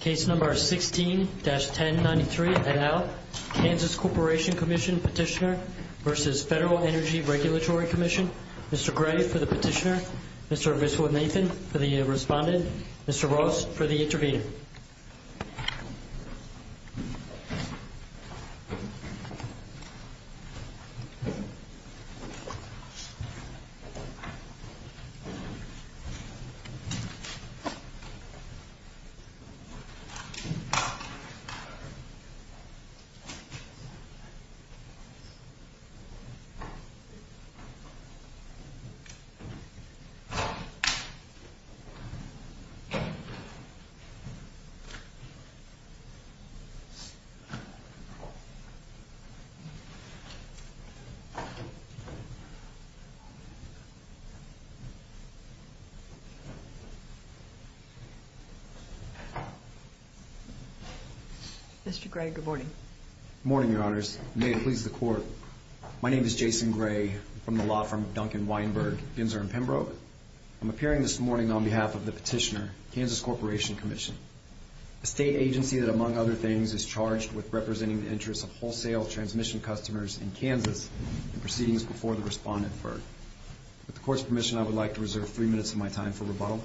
Case number 16-1093 et al. Kansas Corporation Commission Petitioner v. Federal Energy Regulatory Commission. Mr. Gray for the petitioner. Mr. Mitchell and Nathan for the respondent. Mr. Gray, good morning. Good morning, your honors. May it please the court, my name is Jason Gray from the law firm of Duncan Weinberg, Ginzer and Pembroke. I'm appearing this morning on behalf of the petitioner, Kansas Corporation Commission, a state agency that among other things is charged with representing the interests of wholesale transmission customers in Kansas and proceedings before the respondent, FERC. With the court's permission, I would like to reserve three minutes of my time for rebuttal.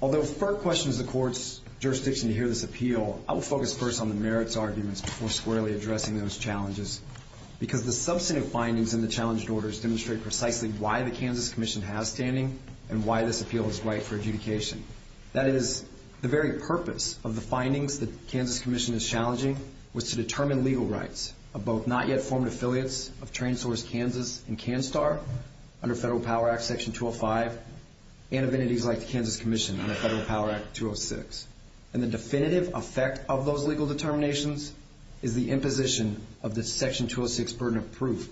Although FERC questions the court's jurisdiction to hear this appeal, I will focus first on the merits arguments before squarely addressing those challenges because the substantive findings in the challenge orders demonstrate precisely why the Kansas Commission has standing and why this appeal is right for adjudication. That is, the very purpose of the findings the Kansas Commission is challenging was to under Federal Power Act Section 205 and of entities like the Kansas Commission under Federal Power Act 206. And the definitive effect of those legal determinations is the imposition of the Section 206 burden of proof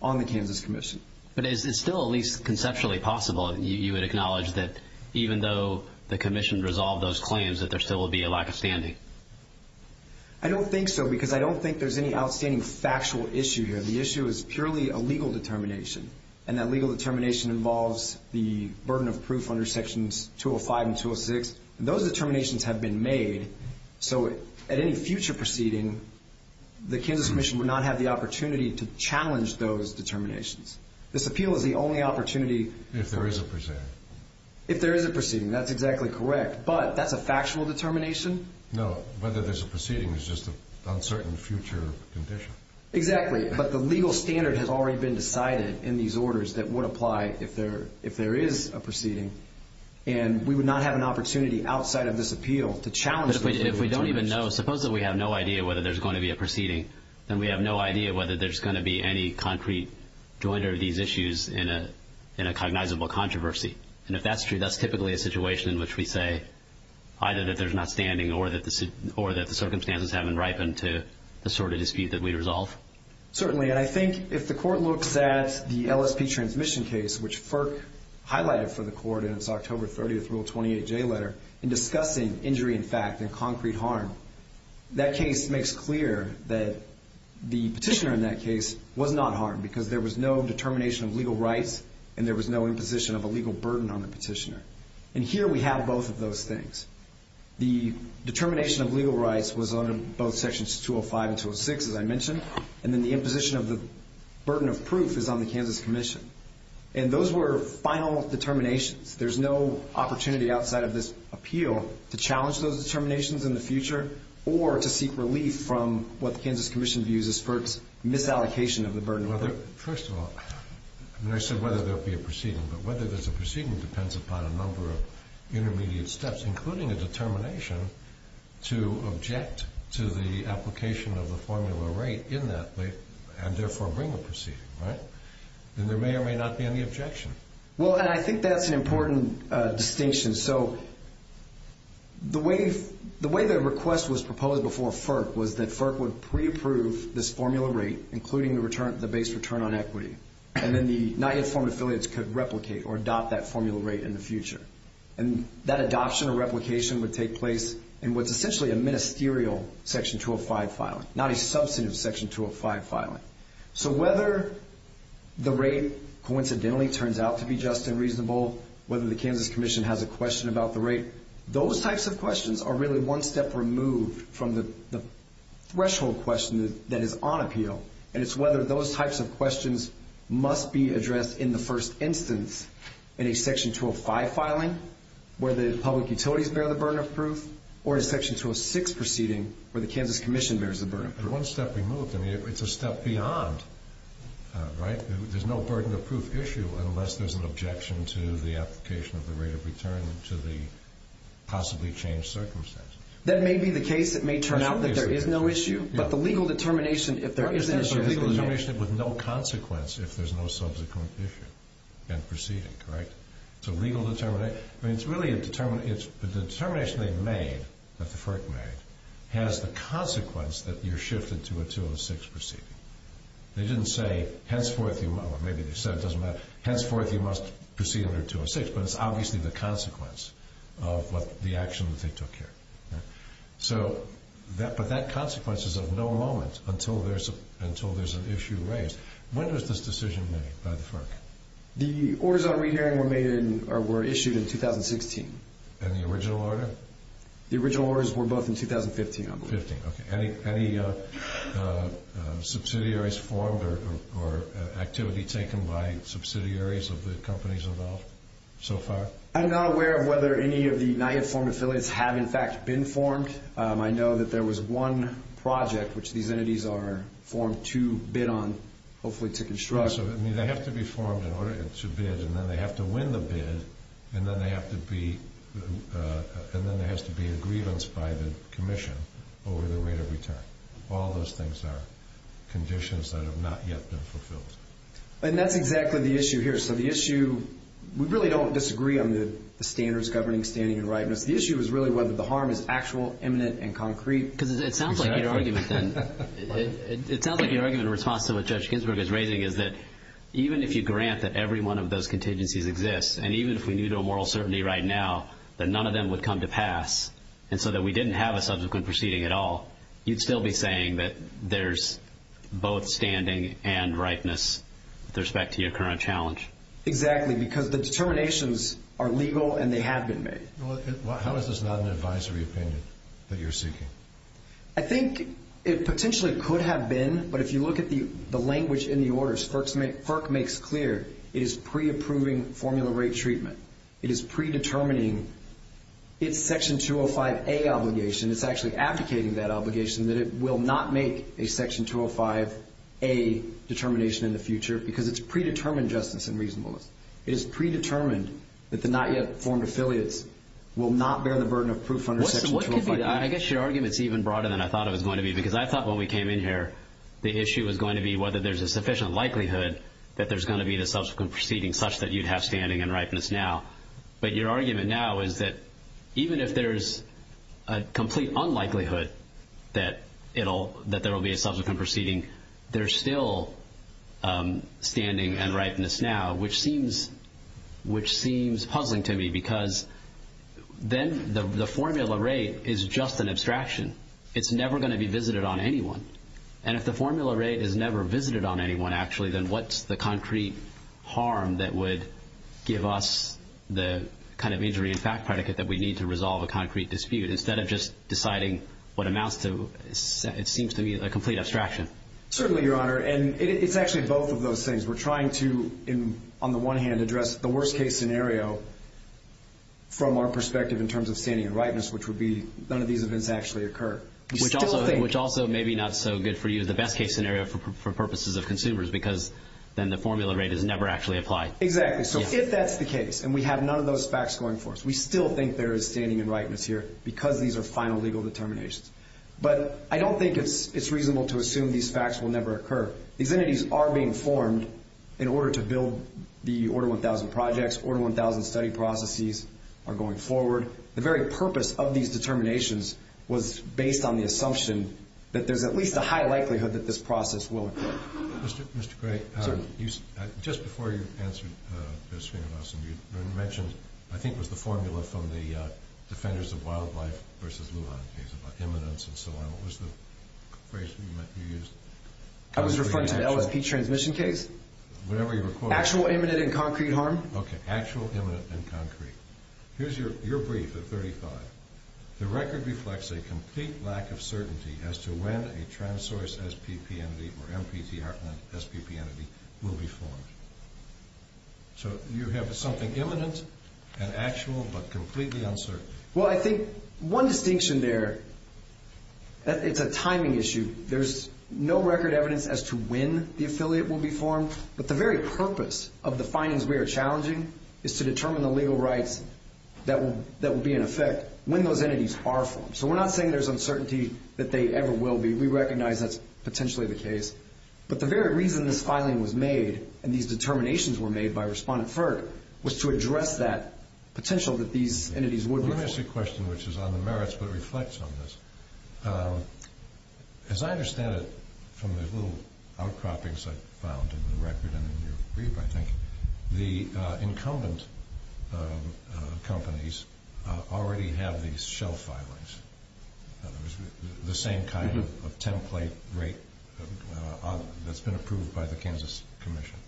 on the Kansas Commission. But is it still at least conceptually possible that you would acknowledge that even though the Commission resolved those claims that there still would be a lack of standing? I don't think so because I don't think there's any outstanding factual issue here. The issue is purely a legal determination. And that legal determination involves the burden of proof under Sections 205 and 206. Those determinations have been made. So at any future proceeding, the Kansas Commission would not have the opportunity to challenge those determinations. This appeal is the only opportunity. If there is a proceeding. If there is a proceeding, that's exactly correct. But that's a factual determination. No, whether there's a proceeding is just an uncertain future condition. Exactly. But the legal standard has already been decided in these orders that would apply if there if there is a proceeding. And we would not have an opportunity outside of this appeal to challenge. But if we don't even know, suppose that we have no idea whether there's going to be a proceeding, then we have no idea whether there's going to be any concrete joinder of these issues in a in a cognizable controversy. And if that's true, that's typically a situation in which we say either that there's not standing or that the or that the circumstances haven't ripened to the sort of dispute that we resolve. Certainly. And I think if the court looks at the LSP transmission case, which FERC highlighted for the court in its October 30th Rule 28 J letter in discussing injury in fact and concrete harm, that case makes clear that the petitioner in that case was not harmed because there was no determination of legal rights and there was no imposition of a legal burden on the petitioner. And here we have both of those things. The determination of legal rights was under both sections 205 and 206, as I mentioned. And then the imposition of the burden of proof is on the Kansas Commission. And those were final determinations. There's no opportunity outside of this appeal to challenge those determinations in the future or to seek relief from what the Kansas Commission views as FERC's misallocation of the burden of proof. Well, first of all, I said whether there'll be a proceeding, but whether there's a proceeding depends upon a number of intermediate steps, including a determination to object to the application of the formula rate in that and therefore bring a proceeding, right? And there may or may not be any objection. Well, and I think that's an important distinction. So the way the request was proposed before is that FERC would pre-approve this formula rate, including the base return on equity, and then the not yet formed affiliates could replicate or adopt that formula rate in the future. And that adoption or replication would take place in what's essentially a ministerial section 205 filing, not a substantive section 205 filing. So whether the rate coincidentally turns out to be just and reasonable, whether the Kansas Commission has a question about the rate, those types of questions are really one step removed from the threshold question that is on appeal. And it's whether those types of questions must be addressed in the first instance in a section 205 filing where the public utilities bear the burden of proof or a section 206 proceeding where the Kansas Commission bears the burden of proof. One step removed. I mean, it's a step beyond, right? There's no burden of proof issue unless there's an objection to the application of the rate of return to the possibly changed circumstances. That may be the case. It may turn out that there is no issue, but the legal determination if there is an issue... But there's a legal determination with no consequence if there's no subsequent issue and proceeding, correct? It's a legal determination. I mean, it's really a determination. The determination they've made, that the FERC made, has the consequence that you're shifted to a 206 proceeding. They didn't say, henceforth, or maybe they said it doesn't matter, henceforth you must proceed under 206, but it's obviously the consequence of the action that they took here. So, but that consequence is of no moment until there's an issue raised. When was this decision made by the FERC? The orders on re-hearing were issued in 2016. And the original order? The original orders were both in 2015, I believe. 2015, okay. Any subsidiaries formed or activity taken by subsidiaries of the companies involved so far? I'm not aware of whether any of the NIAF form affiliates have, in fact, been formed. I know that there was one project which these entities are formed to bid on, hopefully to construct. So, I mean, they have to be formed in order to bid, and then they have to win the bid, and then they have to be, and then there has to be a grievance by the commission over the rate of return. All those things are conditions that have not yet been fulfilled. And that's exactly the issue here. So the issue, we really don't disagree on the standards governing standing and rightness. The issue is really whether the harm is actual, imminent, and concrete. Because it sounds like your argument then, it sounds like your argument in response to what Judge Ginsburg is raising is that even if you grant that every one of those contingencies exists, and even if we knew to a moral certainty right now that none of them would come to pass, and so that we didn't have a subsequent proceeding at all, you'd still be saying that there's both standing and rightness with respect to your current challenge. Exactly, because the determinations are legal and they have been made. How is this not an advisory opinion that you're seeking? I think it potentially could have been, but if you look at the language in the orders, FERC makes clear it is pre-approving formula rate treatment. It is predetermining its Section 205A obligation. It's actually abdicating that obligation that it will not make a Section 205A determination in the future, because it's predetermined justice and reasonableness. It is predetermined that the not yet formed affiliates will not bear the burden of proof under Section 205A. I guess your argument's even broader than I thought it was going to be, because I thought when we came in here, the issue was going to be whether there's a sufficient likelihood that there's going to be a subsequent proceeding such that you'd have standing and rightness now. But your argument now is that even if there's a complete unlikelihood that there will be a subsequent proceeding, there's still standing and rightness now, which seems puzzling to me, because then the formula rate is just an abstraction. It's never going to be visited on anyone. And if the formula rate is never visited on anyone, actually, then what's the concrete harm that would give us the kind of injury in fact predicate that we need to resolve a concrete dispute, instead of just deciding what amounts to, it seems to me, a complete abstraction? Certainly, Your Honor, and it's actually both of those things. We're trying to, on the one hand, address the worst-case scenario from our perspective in terms of standing and rightness, which would be none of these events actually occur. Which also may be not so good for you, the best-case scenario for purposes of consumers, because then the formula rate is never actually applied. Exactly. So if that's the case, and we have none of those facts going for us, we still think there is standing and rightness here, because these are final legal determinations. But I don't think it's reasonable to assume these facts will never occur. These entities are being formed in order to build the Order 1000 projects. Order 1000 study processes are going forward. The very purpose of these determinations was based on the assumption that there's at least a high likelihood that this process will occur. Mr. Gray, just before you answered this question, you mentioned, I think it was the formula from the Defenders of Wildlife v. Lujan case about imminence and so on. What was the phrase that you used? I was referring to the LSP transmission case. Whatever you recall. Actual imminent and concrete harm. Okay, actual imminent and concrete. Here's your brief at 35. The record reflects a complete lack of certainty as to when a trans-source SPP entity or MPTR entity, SPP entity, will be formed. So you have something imminent and actual, but completely uncertain. Well, I think one distinction there, it's a timing issue. There's no record evidence as to when the affiliate will be formed, but the very purpose of the findings we are challenging is to determine the legal rights that will be in effect when those entities are formed. So we're not saying there's uncertainty that they ever will be. We recognize that's potentially the case, but the very reason this filing was made and these determinations were made by Respondent Ferg was to address that potential that these entities would be formed. Let me ask you a question which is on the merits but reflects on this. As I understand it, from the little outcroppings I found in the record and in your brief, I think, the incumbent companies already have these shelf filings. In other words, the same kind of template rate that's been approved by the Kansas Commission.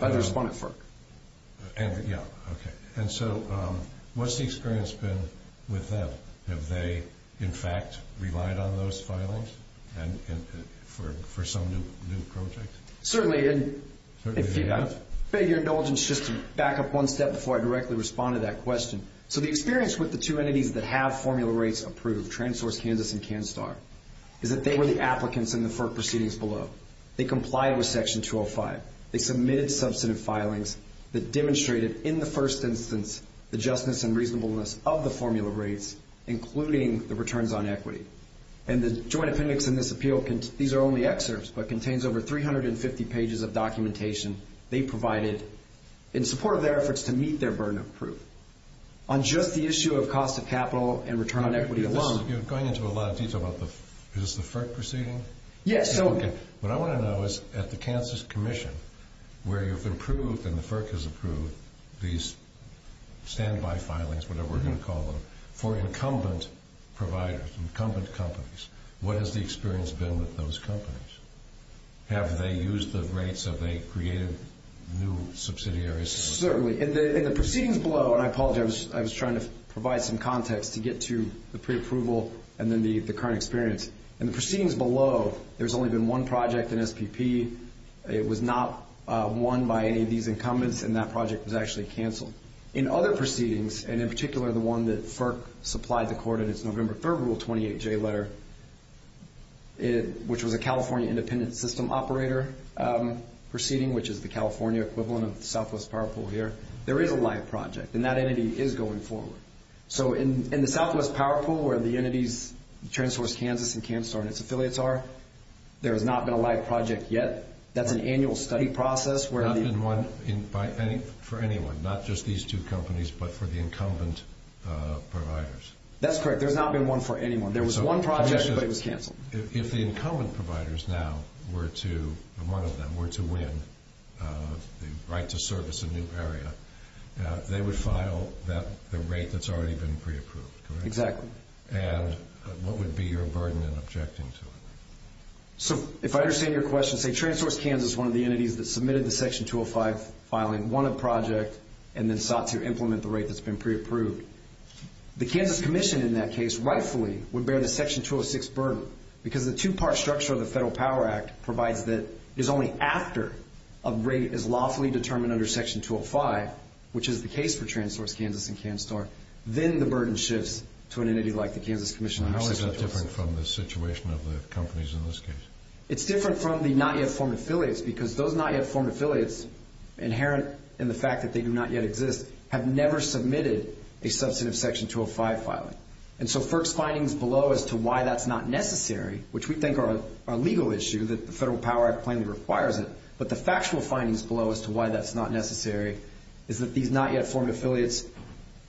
By Respondent Ferg. Yeah, okay. And so what's the experience been with them? Have they, in fact, relied on those filings for some new project? Certainly. I beg your indulgence just to back up one step before I directly respond to that question. So the experience with the two entities that have formula rates approved, TransSource Kansas and CanStar, is that they were the applicants in the FERC proceedings below. They complied with Section 205. They submitted substantive filings that demonstrated in the first instance the justness and reasonableness of the formula rates, including the returns on equity. And the joint appendix in this appeal, these are only excerpts, but contains over 350 pages of documentation they provided in support of their efforts to meet their burden of proof. On just the issue of cost of capital and return on equity alone. You're going into a lot of detail about the, is this the FERC proceeding? Yes. Okay. What I want to know is, at the Kansas Commission, where you've approved and the FERC has approved these standby filings, whatever we're going to call them, for incumbent providers, incumbent companies, what has the experience been with those companies? Have they used the rates? Have they created new subsidiaries? Certainly. In the proceedings below, and I apologize, I was trying to provide some context to get to the preapproval and then the current experience. In the proceedings below, there's only been one project in SPP. It was not won by any of these incumbents, and that project was actually canceled. In other proceedings, and in particular the one that FERC supplied the court in its November 3rd Rule 28J letter, which was a California independent system operator proceeding, which is the California equivalent of the Southwest Power Pool here, there is a live project, and that entity is going forward. So in the Southwest Power Pool, where the entities, TransSource Kansas and CanStar and its affiliates are, there has not been a live project yet. That's an annual study process. Not been won for anyone, not just these two companies, but for the incumbent providers. That's correct. There's not been one for anyone. There was one project, but it was canceled. If the incumbent providers now were to, if one of them were to win the right to service a new area, they would file the rate that's already been preapproved, correct? Exactly. And what would be your burden in objecting to it? So if I understand your question, say TransSource Kansas is one of the entities that submitted the Section 205 filing, won a project, and then sought to implement the rate that's been preapproved. The Kansas Commission in that case rightfully would bear the Section 206 burden because the two-part structure of the Federal Power Act provides that it is only after a rate is lawfully determined under Section 205, which is the case for TransSource Kansas and CanStar, then the burden shifts to an entity like the Kansas Commission. How is it different from the situation of the companies in this case? It's different from the not-yet-formed affiliates because those not-yet-formed affiliates, inherent in the fact that they do not yet exist, have never submitted a substantive Section 205 filing. And so FERC's findings below as to why that's not necessary, which we think are a legal issue that the Federal Power Act plainly requires it, but the factual findings below as to why that's not necessary is that these not-yet-formed affiliates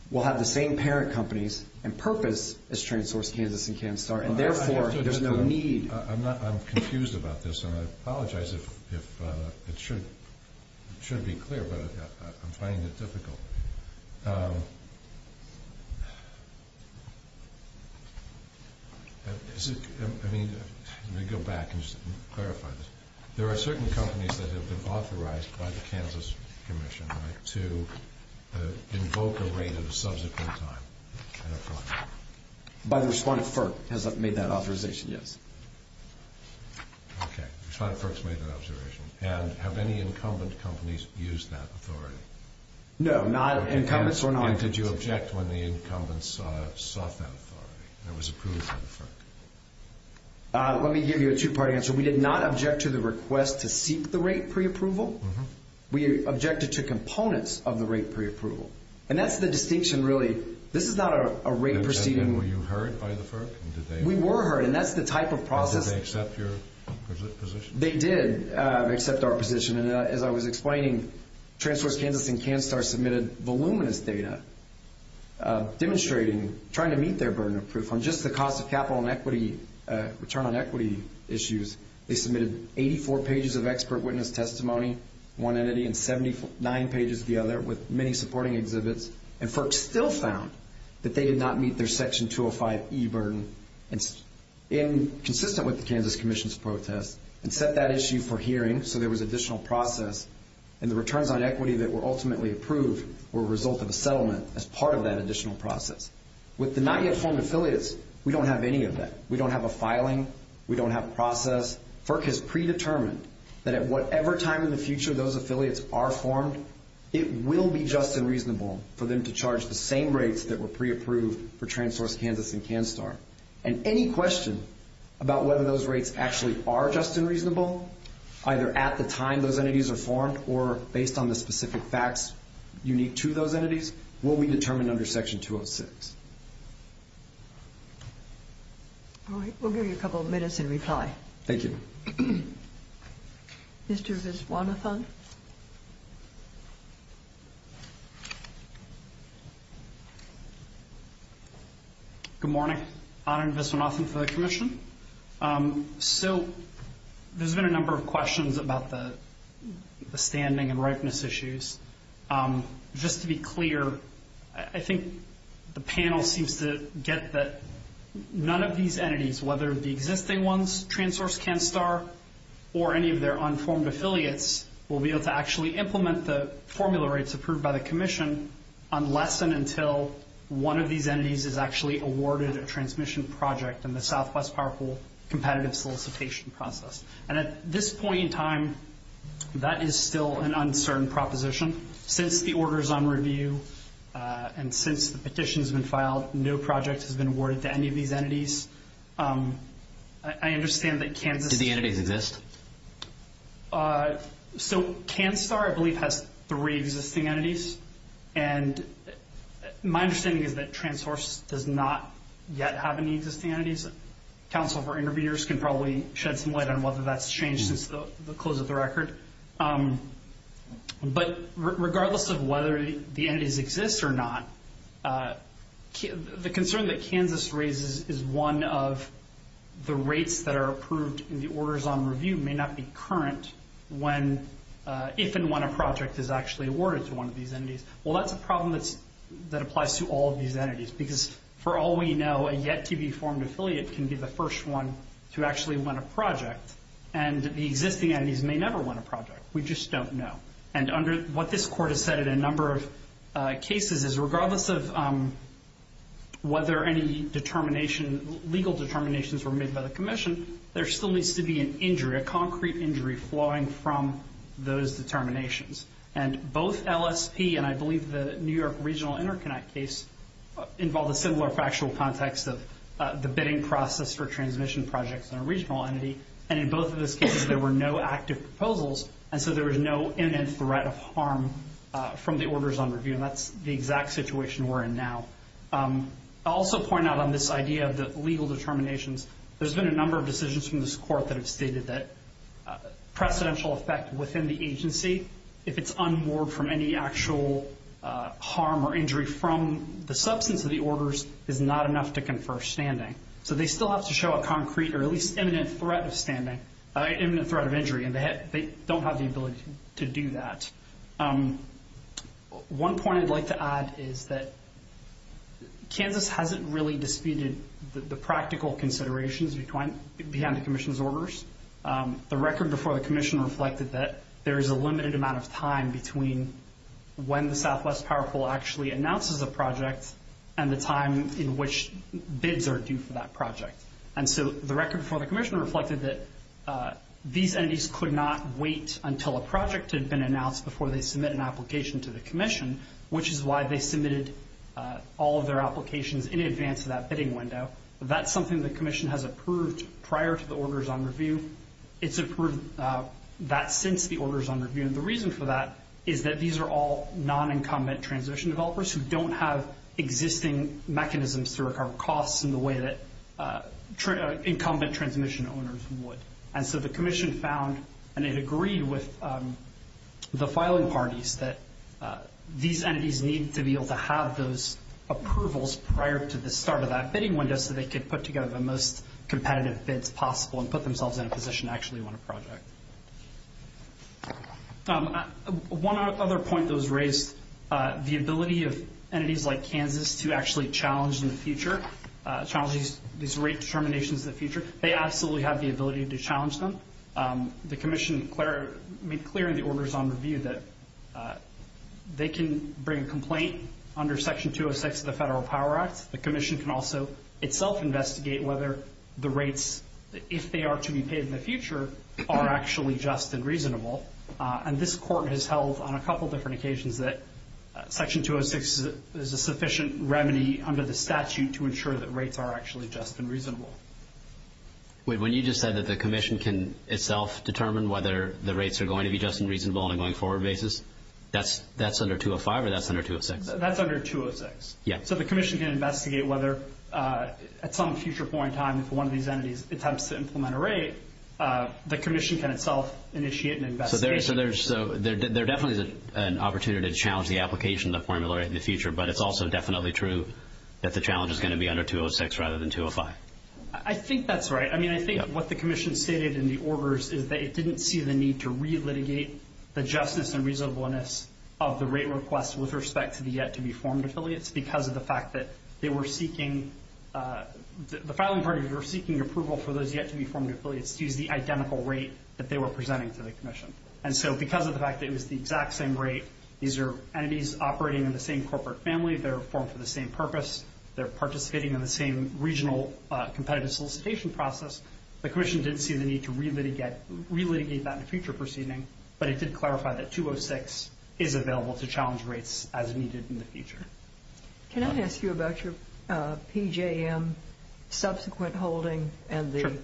will have the same parent companies and purpose as TransSource Kansas and CanStar, and therefore there's no need. I'm confused about this, and I apologize if it should be clear, but I'm finding it difficult. Let me go back and just clarify this. There are certain companies that have been authorized by the Kansas Commission to invoke a rate of subsequent time. By the respondent FERC has made that authorization, yes. Okay, the respondent FERC has made that authorization. And have any incumbent companies used that authority? No, not incumbents or non-incumbents. And did you object when the incumbents sought that authority that was approved by the FERC? Let me give you a two-part answer. We did not object to the request to seek the rate preapproval. We objected to components of the rate preapproval. And that's the distinction, really. This is not a rate proceeding. And were you heard by the FERC? We were heard, and that's the type of process. How did they accept your position? They did accept our position. And as I was explaining, TransSource Kansas and CanStar submitted voluminous data demonstrating trying to meet their burden of proof on just the cost of capital and equity, return on equity issues. They submitted 84 pages of expert witness testimony, one entity, and 79 pages of the other with many supporting exhibits. And FERC still found that they did not meet their Section 205E burden, consistent with the Kansas Commission's protest, and set that issue for hearing so there was additional process. And the returns on equity that were ultimately approved were a result of a settlement as part of that additional process. With the not yet formed affiliates, we don't have any of that. We don't have a filing. We don't have a process. FERC has predetermined that at whatever time in the future those affiliates are formed, it will be just and reasonable for them to charge the same rates that were preapproved for TransSource Kansas and CanStar. And any question about whether those rates actually are just and reasonable, either at the time those entities are formed or based on the specific facts unique to those entities, will be determined under Section 206. All right. We'll give you a couple of minutes in reply. Thank you. Mr. Viswanathan. Good morning. Anand Viswanathan for the Commission. So there's been a number of questions about the standing and rightness issues. Just to be clear, I think the panel seems to get that none of these entities, whether the existing ones, TransSource, CanStar, or any of their unformed affiliates will be able to actually implement the formula rates approved by the Commission unless and until one of these entities is actually awarded a transmission project in the Southwest Power Pool competitive solicitation process. And at this point in time, that is still an uncertain proposition. Since the order is on review and since the petition has been filed, no project has been awarded to any of these entities. I understand that Kansas — Do the entities exist? So CanStar, I believe, has three existing entities. And my understanding is that TransSource does not yet have any existing entities. Council of our interviewers can probably shed some light on whether that's changed since the close of the record. But regardless of whether the entities exist or not, the concern that Kansas raises is one of the rates that are approved and the orders on review may not be current if and when a project is actually awarded to one of these entities. Well, that's a problem that applies to all of these entities because for all we know, a yet-to-be-formed affiliate can be the first one to actually win a project. And the existing entities may never win a project. We just don't know. And what this Court has said in a number of cases is regardless of whether any legal determinations were made by the Commission, there still needs to be an injury, a concrete injury, flowing from those determinations. And both LSP and, I believe, the New York Regional Interconnect case involve a similar factual context of the bidding process for transmission projects in a regional entity. And in both of those cases, there were no active proposals, and so there was no imminent threat of harm from the orders on review. And that's the exact situation we're in now. I'll also point out on this idea of the legal determinations, there's been a number of decisions from this Court that have stated that precedential effect within the agency, if it's unmoored from any actual harm or injury from the substance of the orders, is not enough to confer standing. So they still have to show a concrete or at least imminent threat of standing, imminent threat of injury, and they don't have the ability to do that. One point I'd like to add is that Kansas hasn't really disputed the practical considerations behind the Commission's orders. The record before the Commission reflected that there is a limited amount of time between when the Southwest Power Pool actually announces a project and the time in which bids are due for that project. And so the record before the Commission reflected that these entities could not wait until a project had been announced before they submit an application to the Commission, which is why they submitted all of their applications in advance of that bidding window. That's something the Commission has approved prior to the orders on review. It's approved that since the orders on review. And the reason for that is that these are all non-incumbent transmission developers who don't have existing mechanisms to recover costs in the way that incumbent transmission owners would. And so the Commission found and it agreed with the filing parties that these entities need to be able to have those approvals prior to the start of that bidding window so they could put together the most competitive bids possible and put themselves in a position to actually run a project. One other point that was raised, the ability of entities like Kansas to actually challenge in the future, challenge these rate determinations in the future, they absolutely have the ability to challenge them. The Commission made clear in the orders on review that they can bring a complaint under Section 206 of the Federal Power Act. The Commission can also itself investigate whether the rates, if they are to be paid in the future, are actually just and reasonable. And this Court has held on a couple different occasions that Section 206 is a sufficient remedy under the statute to ensure that rates are actually just and reasonable. When you just said that the Commission can itself determine whether the rates are going to be just and reasonable on a going forward basis, that's under 205 or that's under 206? That's under 206. Yeah. So the Commission can investigate whether at some future point in time if one of these entities attempts to implement a rate, the Commission can itself initiate an investigation. So there definitely is an opportunity to challenge the application of the formula in the future, but it's also definitely true that the challenge is going to be under 206 rather than 205. I think that's right. I mean, I think what the Commission stated in the orders is that it didn't see the need to re-litigate the justice and reasonableness of the rate request with respect to the yet-to-be-formed affiliates because of the fact that they were seeking, the filing parties were seeking approval for those yet-to-be-formed affiliates to use the identical rate that they were presenting to the Commission. And so because of the fact that it was the exact same rate, these are entities operating in the same corporate family. They're formed for the same purpose. They're participating in the same regional competitive solicitation process. The Commission didn't see the need to re-litigate that in a future proceeding, but it did clarify that 206 is available to challenge rates as needed in the future. Can I ask you about your PJM subsequent holding and the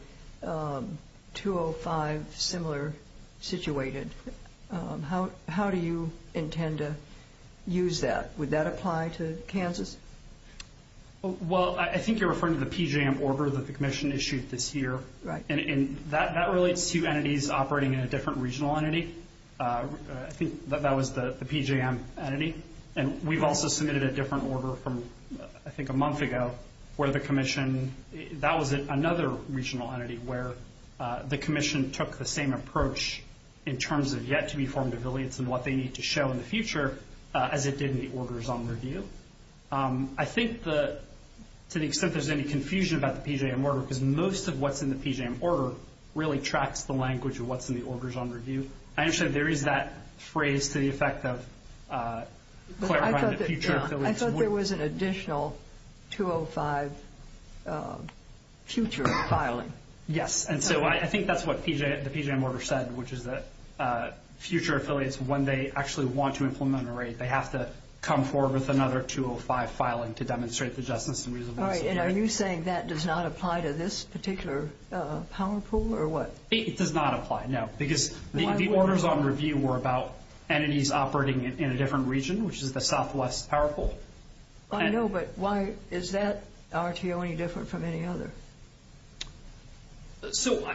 205 similar situated? How do you intend to use that? Would that apply to Kansas? Well, I think you're referring to the PJM order that the Commission issued this year. Right. And that relates to entities operating in a different regional entity. I think that was the PJM entity. And we've also submitted a different order from, I think, a month ago where the Commission, that was another regional entity where the Commission took the same approach in terms of yet-to-be-formed affiliates and what they need to show in the future as it did in the Orders on Review. I think to the extent there's any confusion about the PJM order because most of what's in the PJM order really tracks the language of what's in the Orders on Review. I understand there is that phrase to the effect of clarifying the future affiliates. I thought there was an additional 205 future filing. Yes. And so I think that's what the PJM order said, which is that future affiliates, when they actually want to implement a rate, they have to come forward with another 205 filing to demonstrate the justice and reasonableness. And are you saying that does not apply to this particular power pool or what? It does not apply, no. Because the Orders on Review were about entities operating in a different region, which is the southwest power pool. I know, but why is that RTO any different from any other? So,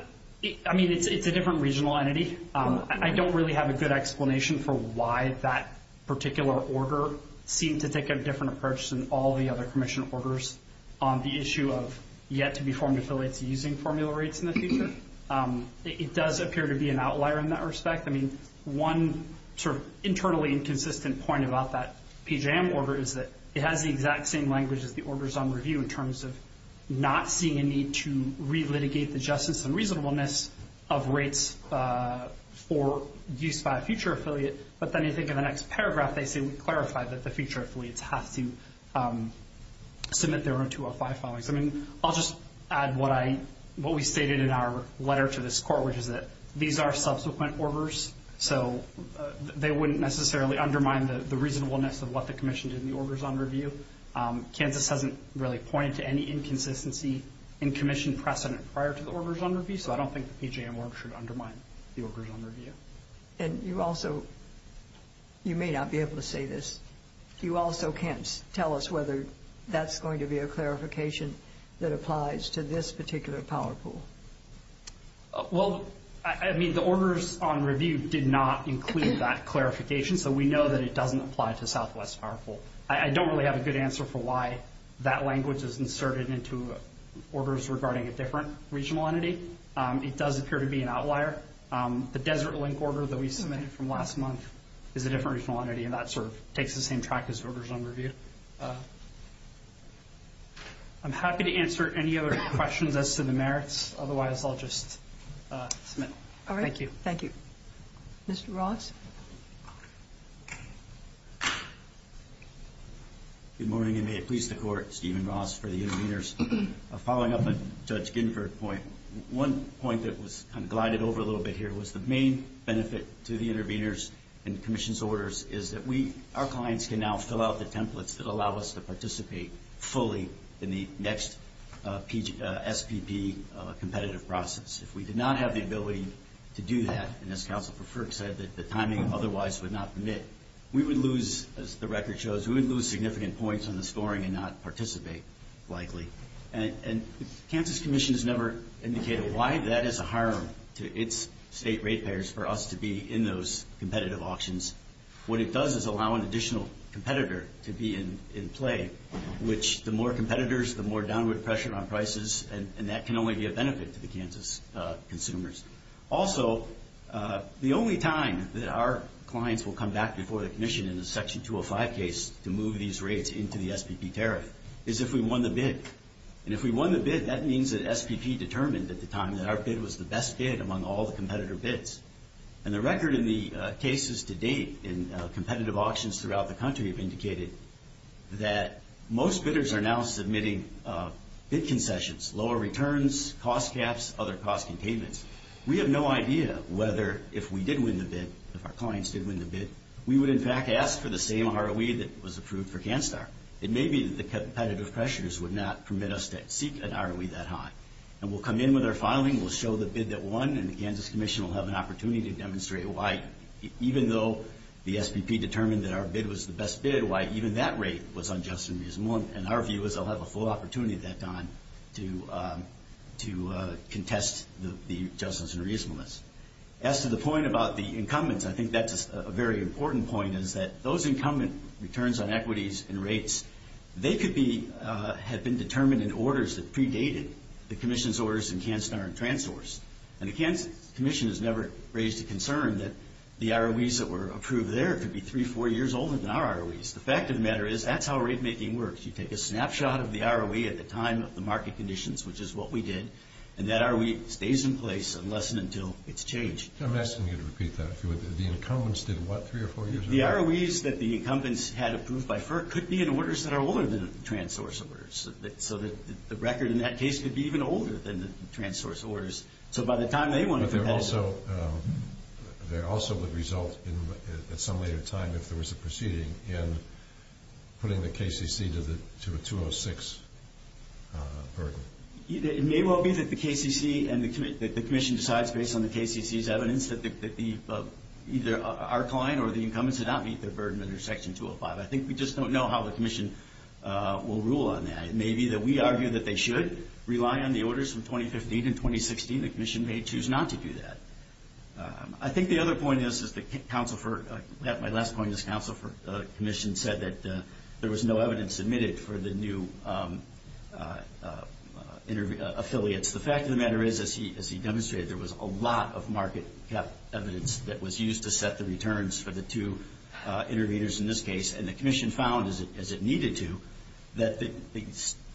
I mean, it's a different regional entity. I don't really have a good explanation for why that particular order seemed to take a different approach than all the other Commission orders on the issue of yet-to-be-formed affiliates using formula rates in the future. It does appear to be an outlier in that respect. I mean, one sort of internally inconsistent point about that PJM order is that it has the exact same language as the Orders on Review in terms of not seeing a need to relitigate the justice and reasonableness of rates for use by a future affiliate, but then you think of the next paragraph, they say we clarify that the future affiliates have to submit their own 205 filings. I mean, I'll just add what we stated in our letter to this Court, which is that these are subsequent orders, so they wouldn't necessarily undermine the reasonableness of what the Commission did in the Orders on Review. Kansas hasn't really pointed to any inconsistency in Commission precedent prior to the Orders on Review, so I don't think the PJM order should undermine the Orders on Review. And you also may not be able to say this. You also can't tell us whether that's going to be a clarification that applies to this particular power pool. Well, I mean, the Orders on Review did not include that clarification, so we know that it doesn't apply to Southwest Power Pool. I don't really have a good answer for why that language is inserted into orders regarding a different regional entity. It does appear to be an outlier. The Desert Link order that we submitted from last month is a different regional entity, and that sort of takes the same track as Orders on Review. Thank you. I'm happy to answer any other questions as to the merits. Otherwise, I'll just submit. All right. Thank you. Thank you. Mr. Ross? Good morning, and may it please the Court. Stephen Ross for the interveners. Following up on Judge Ginsburg's point, one point that was kind of glided over a little bit here was the main benefit to the interveners and the Commission's orders is that our clients can now fill out the templates that allow us to participate fully in the next SPP competitive process. If we did not have the ability to do that, and as Counsel for Frick said that the timing otherwise would not permit, we would lose, as the record shows, we would lose significant points on the scoring and not participate likely. And the Kansas Commission has never indicated why that is a harm to its state ratepayers for us to be in those competitive auctions What it does is allow an additional competitor to be in play, which the more competitors, the more downward pressure on prices, and that can only be a benefit to the Kansas consumers. Also, the only time that our clients will come back before the Commission in the Section 205 case to move these rates into the SPP tariff is if we won the bid. And if we won the bid, that means that SPP determined at the time that our bid was the best bid among all the competitor bids. And the record in the cases to date in competitive auctions throughout the country have indicated that most bidders are now submitting bid concessions, lower returns, cost caps, other cost containments. We have no idea whether if we did win the bid, if our clients did win the bid, we would in fact ask for the same ROE that was approved for CanStar. It may be that the competitive pressures would not permit us to seek an ROE that high. And we'll come in with our filing, we'll show the bid that won, and the Kansas Commission will have an opportunity to demonstrate why even though the SPP determined that our bid was the best bid, why even that rate was unjust and reasonable. And our view is they'll have a full opportunity at that time to contest the justice and reasonableness. As to the point about the incumbents, I think that's a very important point, is that those incumbent returns on equities and rates, they could have been determined in orders that predated the Commission's orders in CanStar and TransSource. And the Kansas Commission has never raised a concern that the ROEs that were approved there could be three, four years older than our ROEs. The fact of the matter is that's how rate making works. You take a snapshot of the ROE at the time of the market conditions, which is what we did, and that ROE stays in place unless and until it's changed. I'm asking you to repeat that, if you would. The incumbents did what three or four years ago? The ROEs that the incumbents had approved by FERC could be in orders that are older than TransSource orders. So the record in that case could be even older than the TransSource orders. So by the time they went through that... But there also would result, at some later time, if there was a proceeding, in putting the KCC to a 206 burden. It may well be that the KCC and the Commission decides, based on the KCC's evidence, that either our client or the incumbents did not meet their burden under Section 205. I think we just don't know how the Commission will rule on that. It may be that we argue that they should rely on the orders from 2015 and 2016. The Commission may choose not to do that. I think the other point is that Council for... My last point is Council for the Commission said that there was no evidence submitted for the new affiliates. The fact of the matter is, as he demonstrated, there was a lot of market-kept evidence that was used to set the returns for the two interveners in this case, and the Commission found, as it needed to, that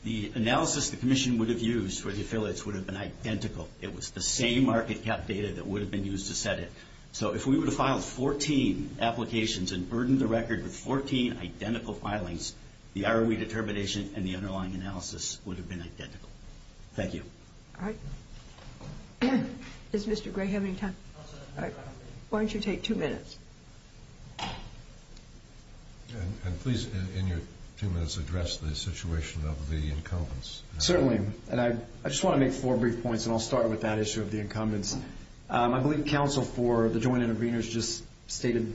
the analysis the Commission would have used for the affiliates would have been identical. It was the same market-kept data that would have been used to set it. So if we would have filed 14 applications and burdened the record with 14 identical filings, the ROE determination and the underlying analysis would have been identical. Thank you. All right. Does Mr. Gray have any time? All right. Why don't you take two minutes? And please, in your two minutes, address the situation of the incumbents. Certainly. And I just want to make four brief points, and I'll start with that issue of the incumbents. I believe Council for the joint interveners just stated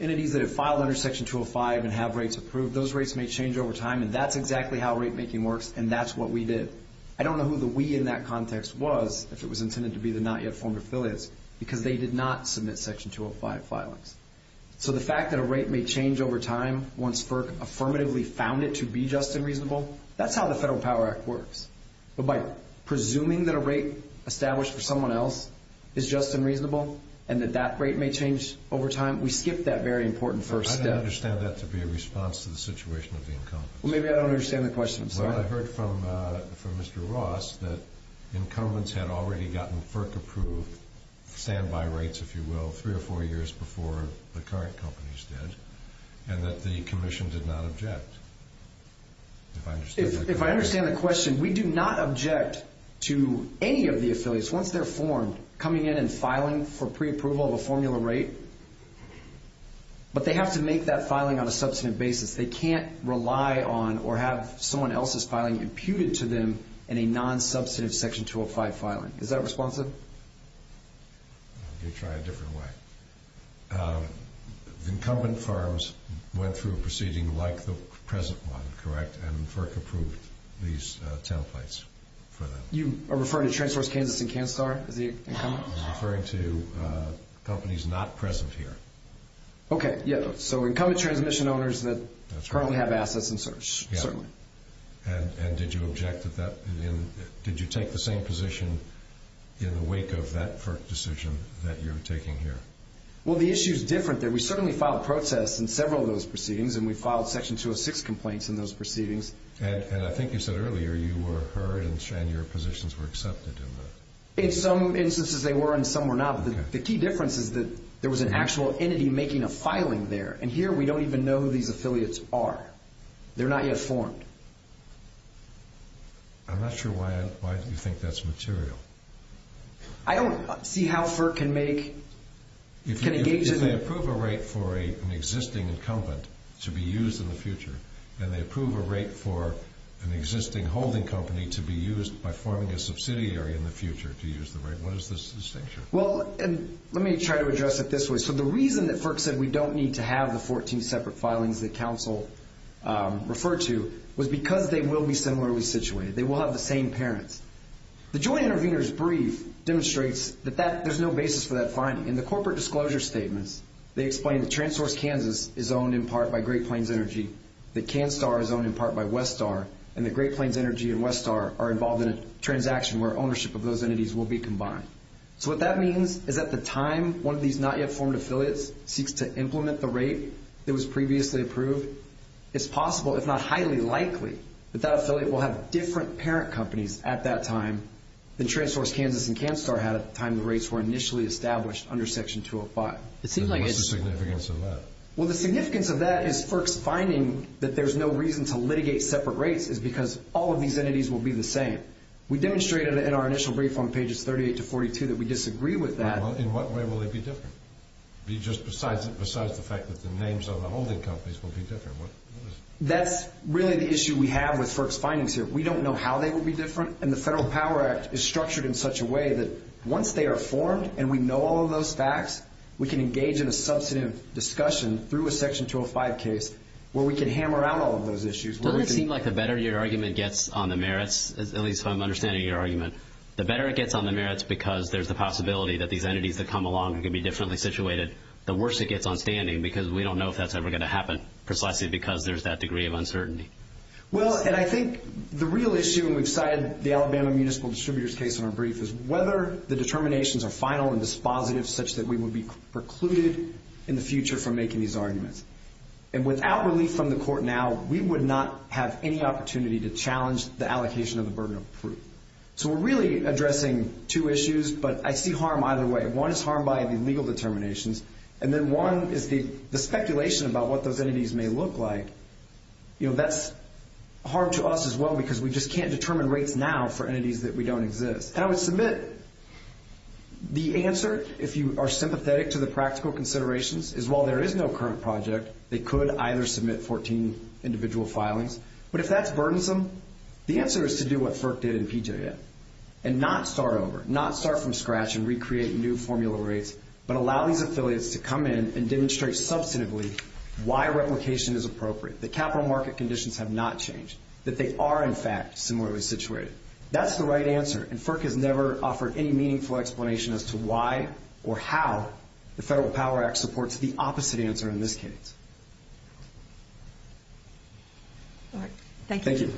entities that have filed under Section 205 and have rates approved, those rates may change over time, and that's exactly how rate-making works, and that's what we did. I don't know who the we in that context was, if it was intended to be the not-yet-formed affiliates, because they did not submit Section 205 filings. So the fact that a rate may change over time once FERC affirmatively found it to be just and reasonable, that's how the Federal Power Act works. But by presuming that a rate established for someone else is just and reasonable and that that rate may change over time, we skipped that very important first step. I don't understand that to be a response to the situation of the incumbents. Well, maybe I don't understand the question. Well, I heard from Mr. Ross that incumbents had already gotten FERC approved standby rates, if you will, 3 or 4 years before the current companies did, and that the Commission did not object. If I understand the question, we do not object to any of the affiliates, once they're formed, coming in and filing for preapproval of a formula rate. But they have to make that filing on a substantive basis. They can't rely on or have someone else's filing imputed to them in a non-substantive Section 205 filing. Is that responsive? Let me try a different way. Incumbent firms went through a proceeding like the present one, correct? And FERC approved these templates for them. You are referring to TransSource Kansas and CanStar as the incumbents? I'm referring to companies not present here. Okay, yeah. So incumbent transmission owners that currently have assets in search, certainly. Yeah. And did you object to that? Did you take the same position in the wake of that FERC decision that you're taking here? Well, the issue is different there. We certainly filed protests in several of those proceedings, and we filed Section 206 complaints in those proceedings. And I think you said earlier you were heard and your positions were accepted in that. In some instances they were and some were not. The key difference is that there was an actual entity making a filing there, and here we don't even know who these affiliates are. They're not yet formed. I'm not sure why you think that's material. I don't see how FERC can make, can engage in... If they approve a rate for an existing incumbent to be used in the future, then they approve a rate for an existing holding company to be used by forming a subsidiary in the future to use the rate. What is this distinction? Well, let me try to address it this way. So the reason that FERC said we don't need to have the 14 separate filings that counsel referred to was because they will be similarly situated. They will have the same parents. The joint intervener's brief demonstrates that there's no basis for that finding. In the corporate disclosure statements, they explain that TransSource Kansas is owned in part by Great Plains Energy, that CanStar is owned in part by Westar, and that Great Plains Energy and Westar are involved in a transaction where ownership of those entities will be combined. So what that means is at the time one of these not-yet-formed affiliates seeks to implement the rate that was previously approved, it's possible, if not highly likely, that that affiliate will have different parent companies at that time than TransSource Kansas and CanStar had at the time the rates were initially established under Section 205. What's the significance of that? Well, the significance of that is FERC's finding that there's no reason to litigate separate rates is because all of these entities will be the same. We demonstrated in our initial brief on pages 38 to 42 that we disagree with that. In what way will they be different? Just besides the fact that the names of the holding companies will be different. That's really the issue we have with FERC's findings here. We don't know how they will be different, and the Federal Power Act is structured in such a way that once they are formed and we know all of those facts, we can engage in a substantive discussion through a Section 205 case where we can hammer out all of those issues. Doesn't it seem like the better your argument gets on the merits, at least from understanding your argument, the better it gets on the merits because there's the possibility that these entities that come along can be differently situated. The worse it gets on standing because we don't know if that's ever going to happen precisely because there's that degree of uncertainty. Well, and I think the real issue, and we've cited the Alabama Municipal Distributors case in our brief, is whether the determinations are final and dispositive such that we would be precluded in the future from making these arguments. And without relief from the Court now, we would not have any opportunity to challenge the allocation of the burden of proof. So we're really addressing two issues, but I see harm either way. One is harm by the legal determinations, and then one is the speculation about what those entities may look like. That's harm to us as well because we just can't determine rates now for entities that we don't exist. And I would submit the answer, if you are sympathetic to the practical considerations, is while there is no current project, they could either submit 14 individual filings. But if that's burdensome, the answer is to do what FERC did in PJM and not start over, not start from scratch and recreate new formula rates, but allow these affiliates to come in and demonstrate substantively why replication is appropriate, that capital market conditions have not changed, that they are, in fact, similarly situated. That's the right answer, and FERC has never offered any meaningful explanation as to why or how the Federal Power Act supports the opposite answer in this case. All right. Thank you. Thank you.